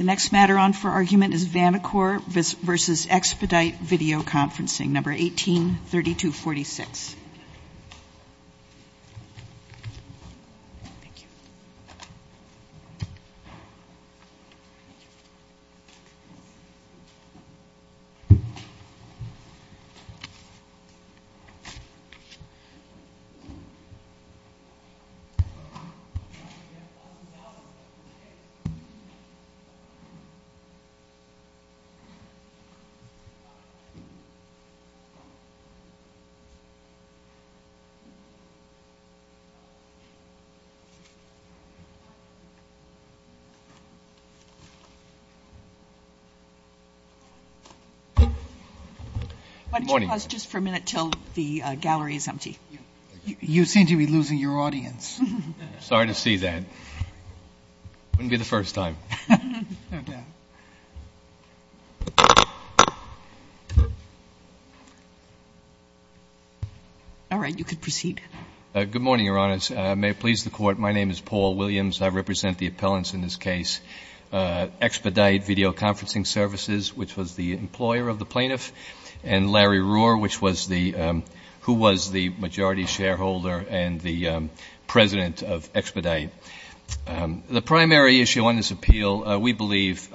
nfer argument is Vanacore v. Expedite Video Conferencing, 183246. Good morning. Just for a minute until the gallery is empty. You seem to be losing your audience. Sorry to see that. Wouldn't be the first time. All right. You can proceed. Good morning, Your Honors. May it please the Court, my name is Paul Williams. I represent the appellants in this case, Expedite Video Conferencing Services, which was the employer of the plaintiff, and Larry Rohr, who was the majority shareholder and the president of Expedite. The primary issue on this appeal, we believe,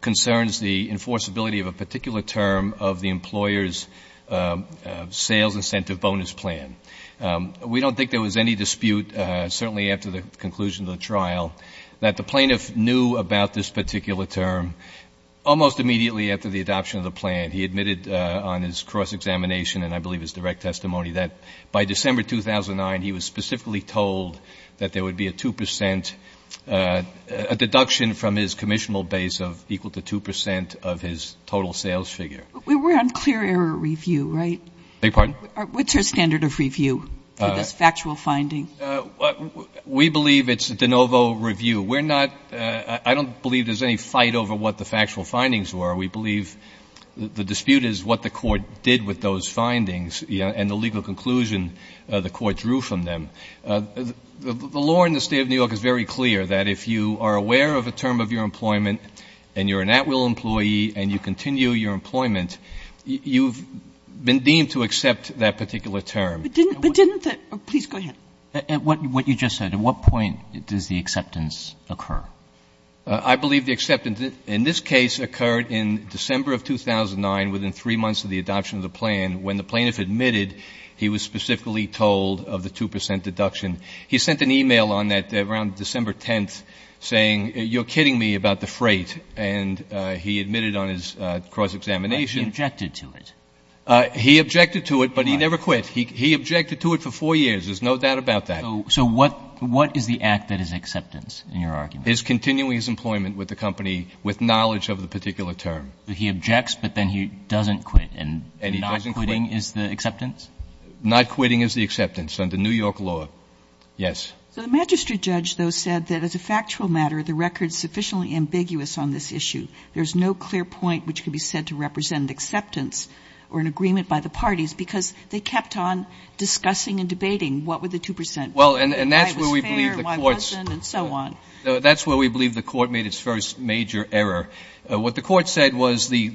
concerns the enforceability of a particular term of the employer's sales incentive bonus plan. We don't think there was any dispute, certainly after the conclusion of the trial, that the plaintiff knew about this particular term almost immediately after the adoption of the plan. He admitted on his cross-examination and I believe his direct testimony that by December 2009, he was specifically told that there would be a 2 percent, a deduction from his commissionable base of equal to 2 percent of his total sales figure. We're on clear error review, right? I beg your pardon? What's your standard of review for this factual finding? We believe it's de novo review. We're not, I don't believe there's any fight over what the factual findings were. We believe the dispute is what the court did with those findings, and the legal conclusion the court drew from them. The law in the State of New York is very clear, that if you are aware of a term of your employment and you're an at-will employee and you continue your employment, you've been deemed to accept that particular term. But didn't the, please go ahead. What you just said, at what point does the acceptance occur? I believe the acceptance in this case occurred in December of 2009, within 3 months of the adoption of the plan, when the plaintiff admitted he was specifically told of the 2 percent deduction. He sent an e-mail on that around December 10th saying, you're kidding me about the freight. And he admitted on his cross-examination. He objected to it. He objected to it, but he never quit. He objected to it for 4 years. There's no doubt about that. So what is the act that is acceptance, in your argument? It's continuing his employment with the company with knowledge of the particular term. He objects, but then he doesn't quit. And not quitting is the acceptance? Not quitting is the acceptance under New York law. Yes. So the magistrate judge, though, said that as a factual matter, the record is sufficiently ambiguous on this issue. There's no clear point which could be said to represent acceptance or an agreement by the parties, because they kept on discussing and debating what were the 2 percent. Well, and that's where we believe the courts. Why it was fair, why it wasn't, and so on. That's where we believe the court made its first major error. What the court said was the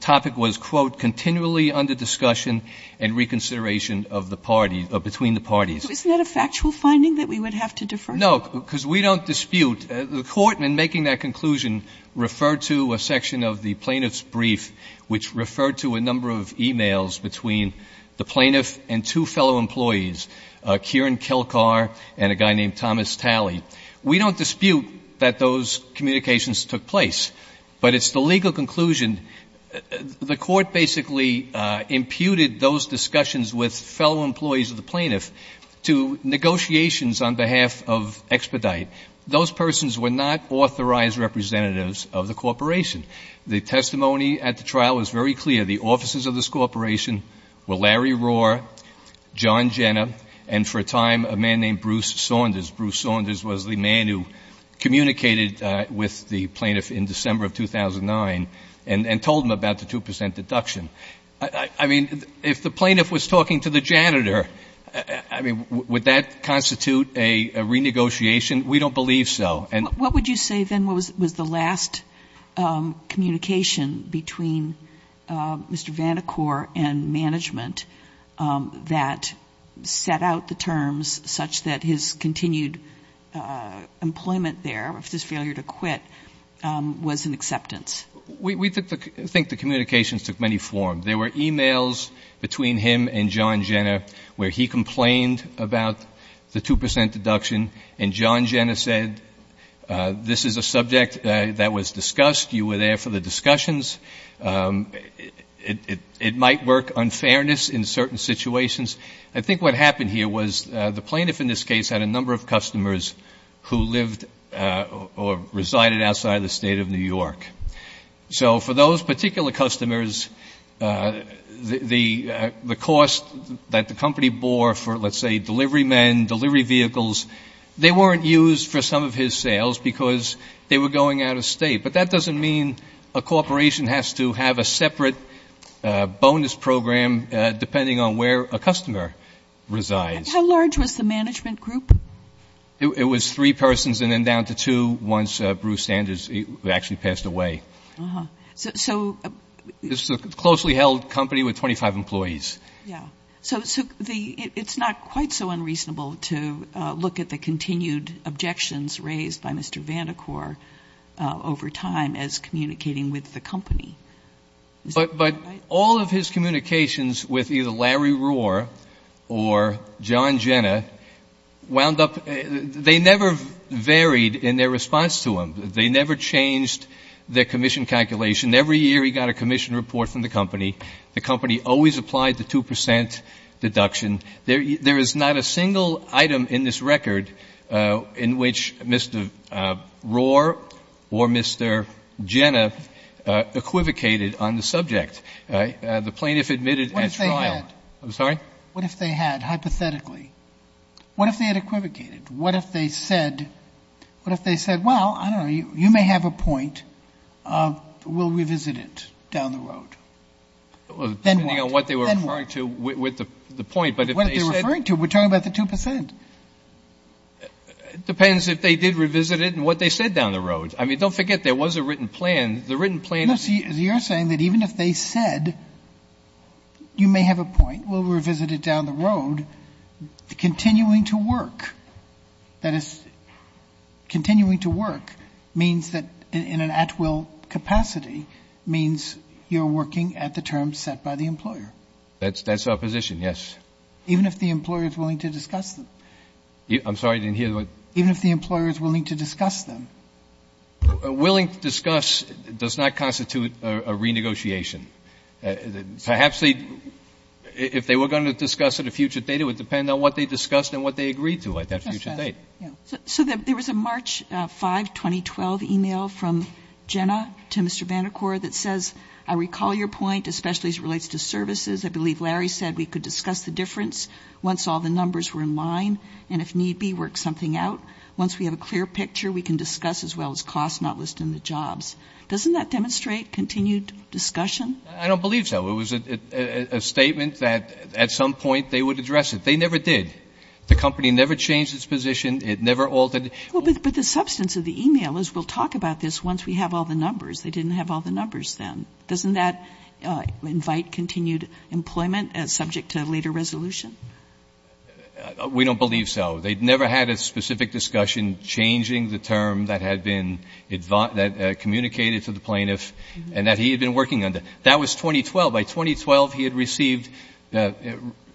topic was, quote, continually under discussion and reconsideration of the parties, between the parties. Isn't that a factual finding that we would have to defer? No, because we don't dispute. The court, in making that conclusion, referred to a section of the plaintiff's brief, which referred to a number of e-mails between the plaintiff and two fellow employees, Kieran Kelkar and a guy named Thomas Talley. We don't dispute that those communications took place, but it's the legal conclusion. The court basically imputed those discussions with fellow employees of the plaintiff to negotiations on behalf of Expedite. Those persons were not authorized representatives of the corporation. The testimony at the trial was very clear. The officers of this corporation were Larry Rohr, John Jenner, and for a time a man named Bruce Saunders. Bruce Saunders was the man who communicated with the plaintiff in December of 2009 and told him about the 2 percent deduction. I mean, if the plaintiff was talking to the janitor, I mean, would that constitute a renegotiation? We don't believe so. What would you say then was the last communication between Mr. Van de Koor and management that set out the terms such that his continued employment there, of his failure to quit, was an acceptance? We think the communications took many forms. There were e-mails between him and John Jenner where he complained about the 2 percent deduction, and John Jenner said, this is a subject that was discussed. You were there for the discussions. It might work unfairness in certain situations. I think what happened here was the plaintiff in this case had a number of customers who lived or resided outside of the State of New York. So for those particular customers, the cost that the company bore for, let's say, delivery men, delivery vehicles, they weren't used for some of his sales because they were going out of State. But that doesn't mean a corporation has to have a separate bonus program depending on where a customer resides. How large was the management group? It was three persons and then down to two once Bruce Sanders actually passed away. So it's a closely held company with 25 employees. Yeah. So it's not quite so unreasonable to look at the continued objections raised by Mr. Van de Koor over time as communicating with the company. But all of his communications with either Larry Rohr or John Jenner wound up they never varied in their response to him. They never changed their commission calculation. Every year he got a commission report from the company. The company always applied the 2 percent deduction. There is not a single item in this record in which Mr. Rohr or Mr. Jenner equivocated on the subject. The plaintiff admitted at trial. What if they had? I'm sorry? What if they had, hypothetically? What if they had equivocated? What if they said, well, I don't know, you may have a point. We'll revisit it down the road. Then what? Depending on what they were referring to with the point. But if they said. What they're referring to. We're talking about the 2 percent. It depends if they did revisit it and what they said down the road. I mean, don't forget there was a written plan. The written plan. You're saying that even if they said, you may have a point. We'll revisit it down the road. Continuing to work. That is, continuing to work means that in an at-will capacity means you're working at the terms set by the employer. That's our position, yes. Even if the employer is willing to discuss them. I'm sorry, I didn't hear. Even if the employer is willing to discuss them. Willing to discuss does not constitute a renegotiation. Perhaps if they were going to discuss it a future date, it would depend on what they discussed and what they agreed to at that future date. So there was a March 5, 2012 email from Jenna to Mr. Vandercort that says, I recall your point, especially as it relates to services. I believe Larry said we could discuss the difference once all the numbers were in line and if need be, work something out. Once we have a clear picture, we can discuss as well as cost, not listing the jobs. Doesn't that demonstrate continued discussion? I don't believe so. It was a statement that at some point they would address it. They never did. The company never changed its position. It never altered. But the substance of the email is we'll talk about this once we have all the numbers. They didn't have all the numbers then. Doesn't that invite continued employment subject to a later resolution? We don't believe so. They never had a specific discussion changing the term that had been communicated to the plaintiff and that he had been working under. That was 2012. By 2012, he had received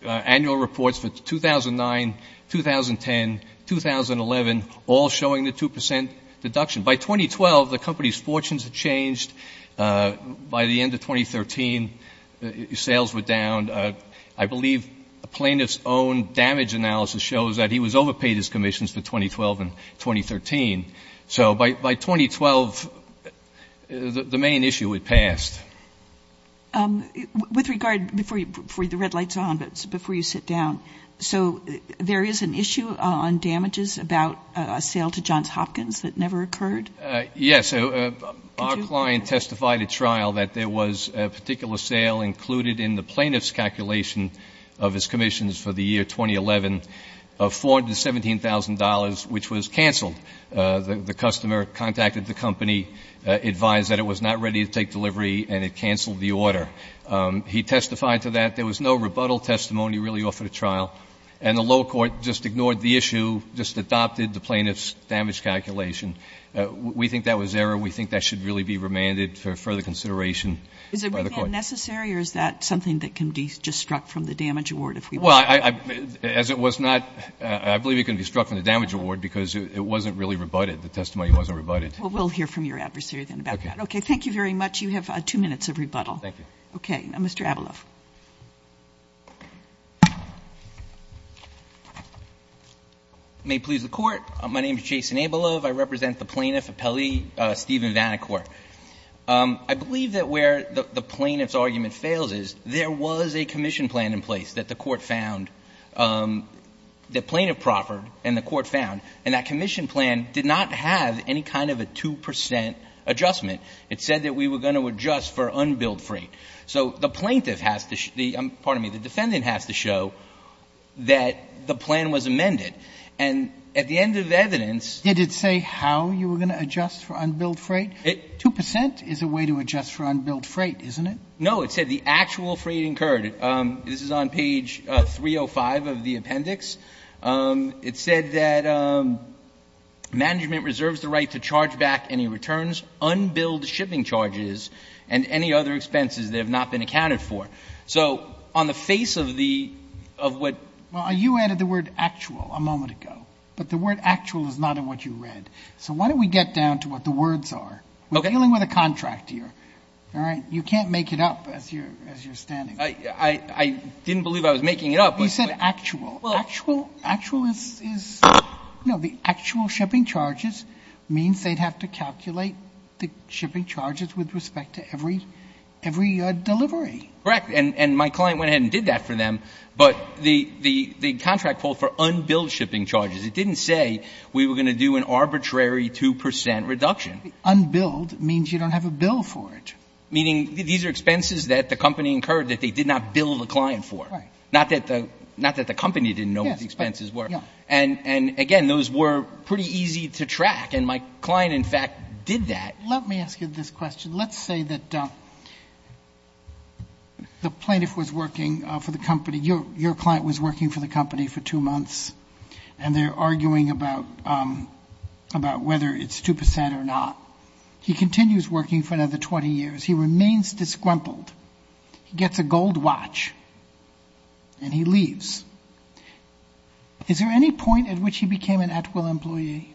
annual reports for 2009, 2010, 2011, all showing the 2% deduction. By 2012, the company's fortunes had changed. By the end of 2013, sales were down. I believe a plaintiff's own damage analysis shows that he was overpaid his commissions for 2012 and 2013. So by 2012, the main issue had passed. With regard, before the red light's on, but before you sit down, so there is an issue on damages about a sale to Johns Hopkins that never occurred? Yes. Our client testified at trial that there was a particular sale included in the plaintiff's calculation of his commissions for the year 2011 of $417,000, which was canceled. The customer contacted the company, advised that it was not ready to take delivery and it canceled the order. He testified to that. There was no rebuttal testimony really offered at trial. And the lower court just ignored the issue, just adopted the plaintiff's damage calculation. We think that was error. We think that should really be remanded for further consideration by the court. Is a remand necessary or is that something that can be just struck from the damage award if we want to? Well, as it was not, I believe it can be struck from the damage award because it wasn't really rebutted. The testimony wasn't rebutted. Well, we'll hear from your adversary then about that. Okay. Okay. Thank you very much. You have two minutes of rebuttal. Thank you. Okay. Mr. Abelove. May it please the Court. My name is Jason Abelove. I represent the plaintiff, Appelli Stephen Vanacourt. I believe that where the plaintiff's argument fails is there was a commission plan in place that the court found, the plaintiff proffered and the court found, and that commission plan did not have any kind of a 2 percent adjustment. It said that we were going to adjust for unbilled freight. So the plaintiff has to the ‑‑ pardon me, the defendant has to show that the plan was amended. And at the end of the evidence ‑‑ Did it say how you were going to adjust for unbilled freight? 2 percent is a way to adjust for unbilled freight, isn't it? No. It said the actual freight incurred, this is on page 305 of the appendix, it said that management reserves the right to charge back any returns, unbilled shipping charges, and any other expenses that have not been accounted for. So on the face of the ‑‑ Well, you added the word actual a moment ago. But the word actual is not in what you read. So why don't we get down to what the words are. Okay. We're dealing with a contract here. All right? You can't make it up as you're standing. I didn't believe I was making it up. You said actual. Actual is, you know, the actual shipping charges means they'd have to calculate the shipping charges with respect to every delivery. Correct. And my client went ahead and did that for them. But the contract pulled for unbilled shipping charges. It didn't say we were going to do an arbitrary 2 percent reduction. Unbilled means you don't have a bill for it. Meaning these are expenses that the company incurred that they did not bill the client for. Right. Not that the company didn't know what the expenses were. Yeah. And, again, those were pretty easy to track. And my client, in fact, did that. Let me ask you this question. Let's say that the plaintiff was working for the company. Your client was working for the company for two months. And they're arguing about whether it's 2 percent or not. He continues working for another 20 years. He remains disgruntled. He gets a gold watch. And he leaves. Is there any point at which he became an at-will employee?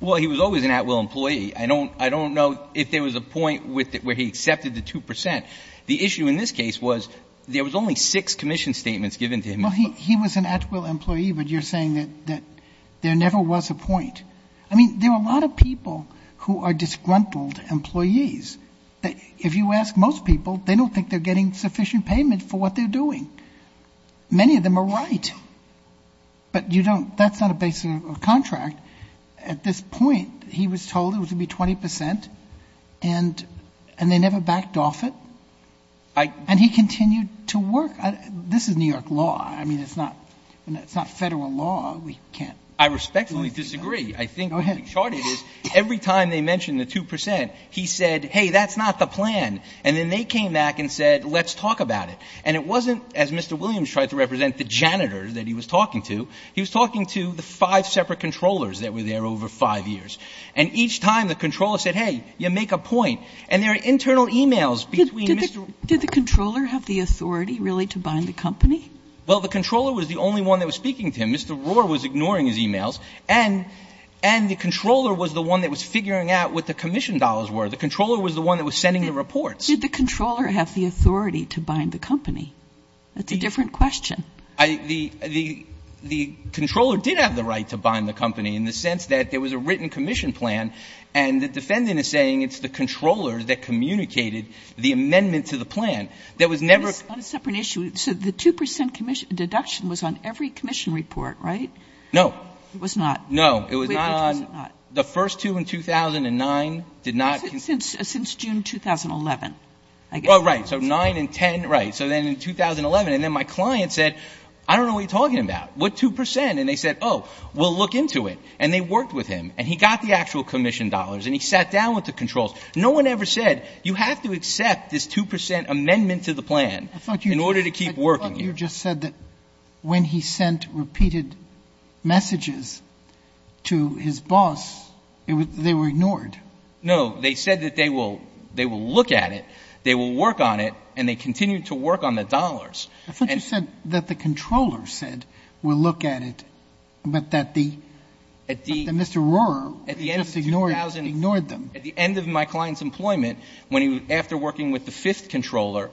Well, he was always an at-will employee. I don't know if there was a point where he accepted the 2 percent. The issue in this case was there was only six commission statements given to him. Well, he was an at-will employee, but you're saying that there never was a point. I mean, there are a lot of people who are disgruntled employees. If you ask most people, they don't think they're getting sufficient payment for what they're doing. Many of them are right. But that's not a basic contract. At this point, he was told it was going to be 20 percent, and they never backed off it. And he continued to work. This is New York law. I mean, it's not federal law. I respectfully disagree. I think what we charted is every time they mentioned the 2 percent, he said, hey, that's not the plan. And then they came back and said, let's talk about it. And it wasn't, as Mr. Williams tried to represent, the janitor that he was talking to. He was talking to the five separate controllers that were there over five years. And each time, the controller said, hey, you make a point. And there are internal e-mails between Mr. Did the controller have the authority, really, to bind the company? Well, the controller was the only one that was speaking to him. Mr. Rohr was ignoring his e-mails. And the controller was the one that was figuring out what the commission dollars were. The controller was the one that was sending the reports. Did the controller have the authority to bind the company? That's a different question. The controller did have the right to bind the company in the sense that there was a written commission plan, and the defendant is saying it's the controller that communicated the amendment to the plan. There was never a separate issue. So the 2 percent deduction was on every commission report, right? No. It was not? No. It was not on the first two in 2009, did not. Since June 2011, I guess. Right. So 9 and 10, right. So then in 2011. And then my client said, I don't know what you're talking about. What 2 percent? And they said, oh, we'll look into it. And they worked with him. And he got the actual commission dollars. And he sat down with the controllers. No one ever said you have to accept this 2 percent amendment to the plan in order to keep working here. I thought you just said that when he sent repeated messages to his boss, they were ignored. No. They said that they will look at it, they will work on it, and they continued to work on the dollars. I thought you said that the controller said we'll look at it, but that the Mr. Rohrer just ignored them. At the end of my client's employment, when he was after working with the fifth controller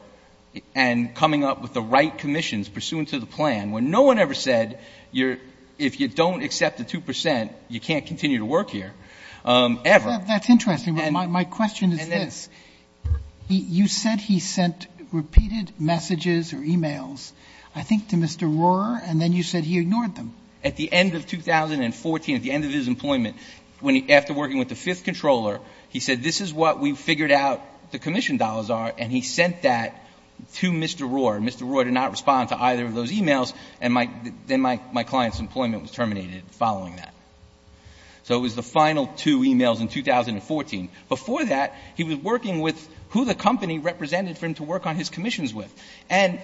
and coming up with the right commissions pursuant to the plan, when no one ever said if you don't accept the 2 percent, you can't continue to work here, ever. That's interesting. My question is this. You said he sent repeated messages or e-mails, I think to Mr. Rohrer, and then you said he ignored them. At the end of 2014, at the end of his employment, after working with the fifth controller, he said this is what we figured out the commission dollars are, and he sent that to Mr. Rohrer. Mr. Rohrer did not respond to either of those e-mails, and then my client's employment was terminated following that. So it was the final two e-mails in 2014. Before that, he was working with who the company represented for him to work on his commissions with. And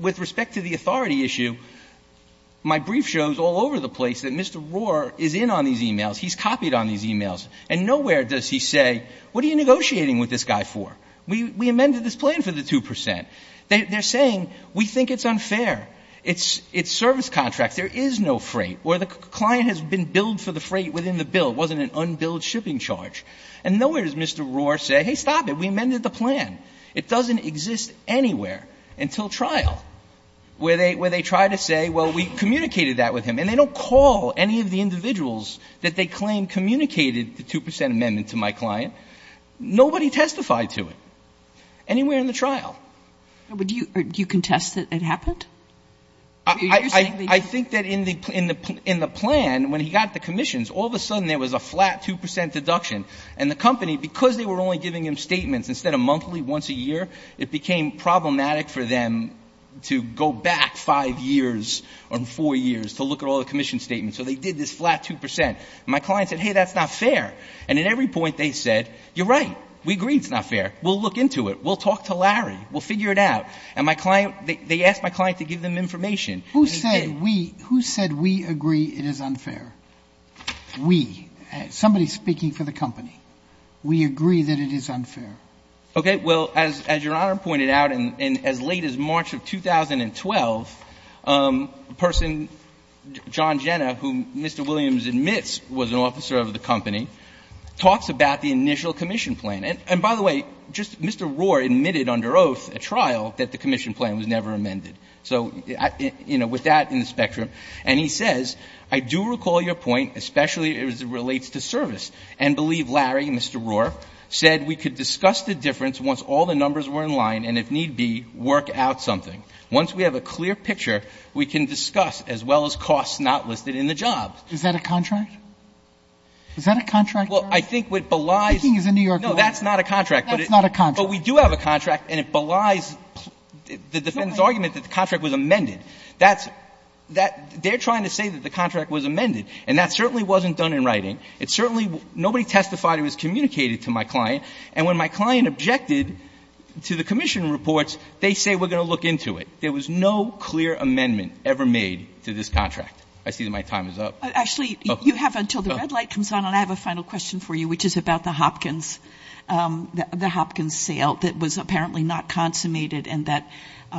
with respect to the authority issue, my brief shows all over the place that Mr. Rohrer is in on these e-mails. He's copied on these e-mails, and nowhere does he say what are you negotiating with this guy for? We amended this plan for the 2 percent. They're saying we think it's unfair. It's service contracts. There is no freight, or the client has been billed for the freight within the bill. It wasn't an unbilled shipping charge. And nowhere does Mr. Rohrer say, hey, stop it. We amended the plan. It doesn't exist anywhere until trial, where they try to say, well, we communicated that with him. And they don't call any of the individuals that they claim communicated the 2 percent amendment to my client. Nobody testified to it anywhere in the trial. But do you contest that it happened? I think that in the plan, when he got the commissions, all of a sudden there was a flat 2 percent deduction. And the company, because they were only giving him statements instead of monthly, once a year, it became problematic for them to go back five years or four years to look at all the commission statements. So they did this flat 2 percent. And my client said, hey, that's not fair. And at every point they said, you're right, we agree it's not fair. We'll look into it. We'll talk to Larry. We'll figure it out. And my client, they asked my client to give them information. Who said we agree it is unfair? We. Somebody is speaking for the company. We agree that it is unfair. Okay. Well, as Your Honor pointed out, as late as March of 2012, a person, John Jenna, whom Mr. Williams admits was an officer of the company, talks about the initial commission plan. And by the way, just Mr. Rohr admitted under oath at trial that the commission So, you know, with that in the spectrum. And he says, I do recall your point, especially as it relates to service, and believe Larry, Mr. Rohr, said we could discuss the difference once all the numbers were in line and, if need be, work out something. Once we have a clear picture, we can discuss, as well as costs not listed in the job. Is that a contract? Is that a contract, Your Honor? Well, I think what belies Speaking as a New York lawyer. No, that's not a contract. That's not a contract. But we do have a contract, and it belies the defendant's argument that the contract was amended. That's that they're trying to say that the contract was amended. And that certainly wasn't done in writing. It certainly nobody testified. It was communicated to my client. And when my client objected to the commission reports, they say we're going to look into it. There was no clear amendment ever made to this contract. I see that my time is up. Actually, you have until the red light comes on. And I have a final question for you, which is about the Hopkins, the Hopkins sale that was apparently not consummated and that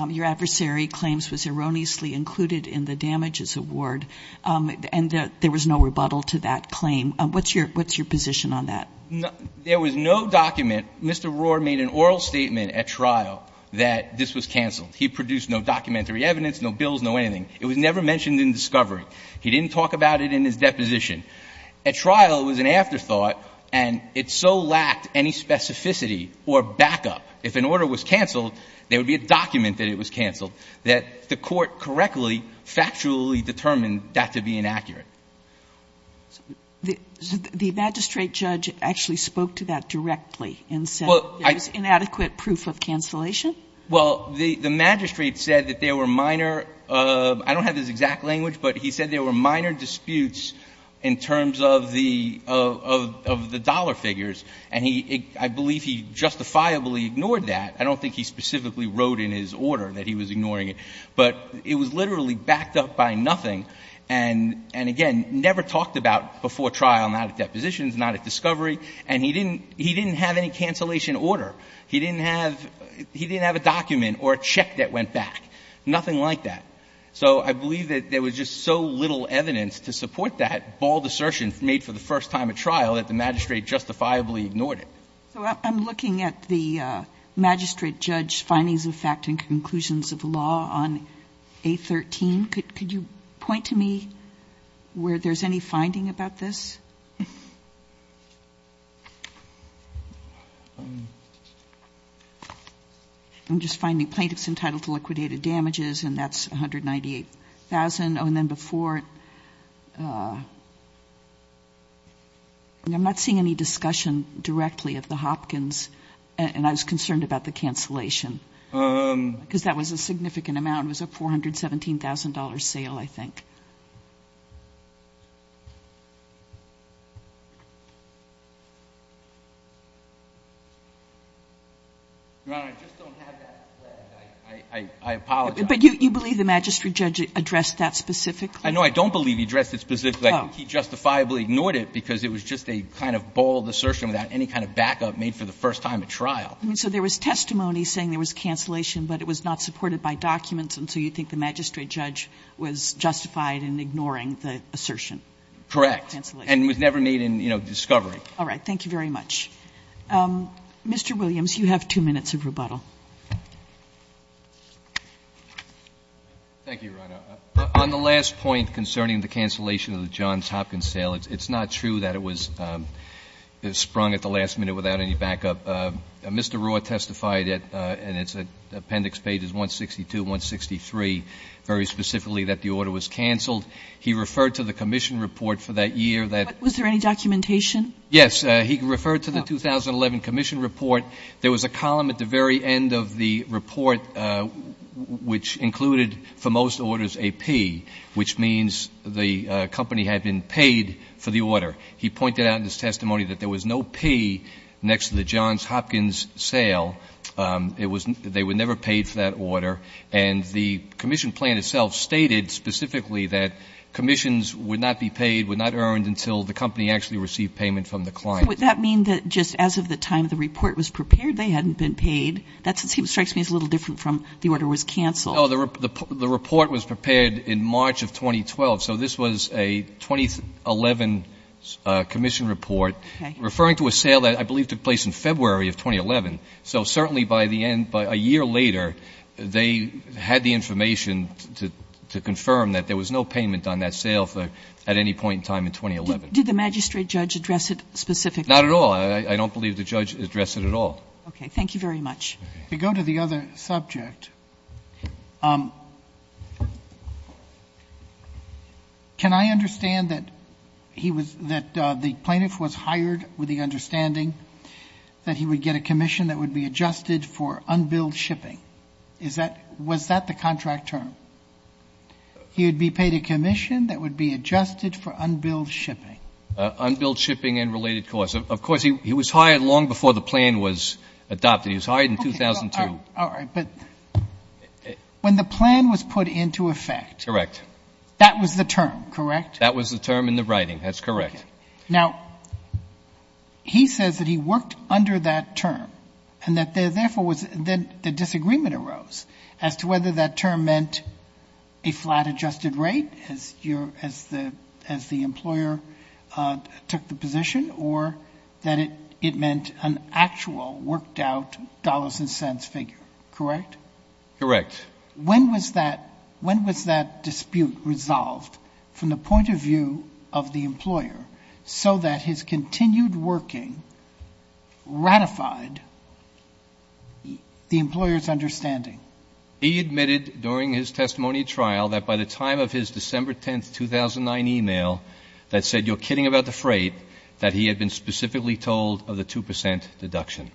your adversary claims was erroneously included in the damages award, and that there was no rebuttal to that claim. What's your position on that? There was no document. Mr. Rohr made an oral statement at trial that this was canceled. He produced no documentary evidence, no bills, no anything. It was never mentioned in discovery. He didn't talk about it in his deposition. At trial, it was an afterthought, and it so lacked any specificity or backup. If an order was canceled, there would be a document that it was canceled, that the court correctly, factually determined that to be inaccurate. The magistrate judge actually spoke to that directly and said there was inadequate proof of cancellation? Well, the magistrate said that there were minor — I don't have his exact language, but he said there were minor disputes in terms of the dollar figures, and I believe he justifiably ignored that. I don't think he specifically wrote in his order that he was ignoring it. But it was literally backed up by nothing and, again, never talked about before trial, not at depositions, not at discovery. And he didn't have any cancellation order. He didn't have a document or a check that went back, nothing like that. So I believe that there was just so little evidence to support that bald assertion made for the first time at trial that the magistrate justifiably ignored it. So I'm looking at the magistrate judge's findings of fact and conclusions of law on A13. Could you point to me where there's any finding about this? I'm just finding plaintiffs entitled to liquidated damages, and that's 100 percent true. I'm not seeing any discussion directly of the Hopkins, and I was concerned about the cancellation, because that was a significant amount. It was a $417,000 sale, I think. Your Honor, I just don't have that flag. I apologize. But you believe the magistrate judge addressed that specifically? No, I don't believe he addressed it specifically. He justifiably ignored it because it was just a kind of bald assertion without any kind of backup made for the first time at trial. So there was testimony saying there was cancellation, but it was not supported by documents, and so you think the magistrate judge was justified in ignoring the assertion? Correct. And it was never made in discovery. All right. Thank you very much. Mr. Williams, you have 2 minutes of rebuttal. Thank you, Your Honor. On the last point concerning the cancellation of the Johns Hopkins sale, it's not true that it was sprung at the last minute without any backup. Mr. Rohr testified, and it's appendix pages 162 and 163, very specifically that the order was canceled. He referred to the commission report for that year. Was there any documentation? Yes. He referred to the 2011 commission report. There was a column at the very end of the report which included, for most orders, a P, which means the company had been paid for the order. He pointed out in his testimony that there was no P next to the Johns Hopkins sale. They were never paid for that order. And the commission plan itself stated specifically that commissions would not be paid, would not earn until the company actually received payment from the client. Would that mean that just as of the time the report was prepared, they hadn't been paid? That strikes me as a little different from the order was canceled. No. The report was prepared in March of 2012. So this was a 2011 commission report, referring to a sale that I believe took place in February of 2011. So certainly by the end, by a year later, they had the information to confirm that there was no payment on that sale at any point in time in 2011. Did the magistrate judge address it specifically? Not at all. I don't believe the judge addressed it at all. Okay. Thank you very much. To go to the other subject, can I understand that he was, that the plaintiff was hired with the understanding that he would get a commission that would be adjusted for unbilled shipping? Is that, was that the contract term? He would be paid a commission that would be adjusted for unbilled shipping. Unbilled shipping and related costs. Of course, he was hired long before the plan was adopted. He was hired in 2002. All right. But when the plan was put into effect. Correct. That was the term, correct? That was the term in the writing. That's correct. Okay. Now, he says that he worked under that term and that there, therefore, was, then the disagreement arose as to whether that term meant a flat adjusted rate as you're, as the, as the employer took the position or that it, it meant an actual worked out dollars and cents figure, correct? Correct. When was that, when was that dispute resolved from the point of view of the employer's understanding? He admitted during his testimony trial that by the time of his December 10th, 2009 email that said, you're kidding about the freight, that he had been specifically told of the 2% deduction.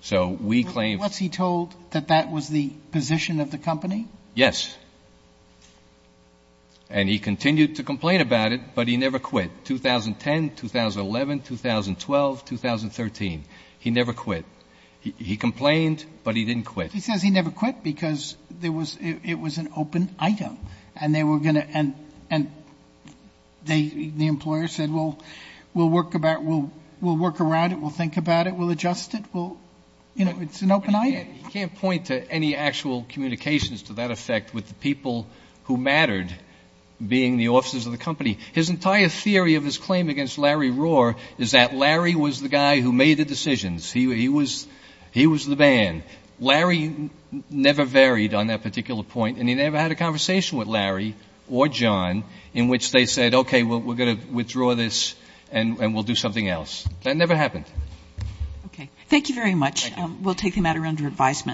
So we claim. Was he told that that was the position of the company? Yes. And he continued to complain about it, but he never quit. 2010, 2011, 2012, 2013, he never quit. He complained, but he didn't quit. He says he never quit because there was, it was an open item and they were going to, and, and they, the employer said, well, we'll work about, we'll, we'll work around it. We'll think about it. We'll adjust it. We'll, you know, it's an open item. He can't point to any actual communications to that effect with the people who mattered being the officers of the company. His entire theory of his claim against Larry Rohr is that Larry was the guy who made the decisions. He was, he was the man. Larry never varied on that particular point, and he never had a conversation with Larry or John in which they said, okay, well, we're going to withdraw this and we'll do something else. That never happened. Okay. Thank you very much. Thank you. We'll take the matter under advisement.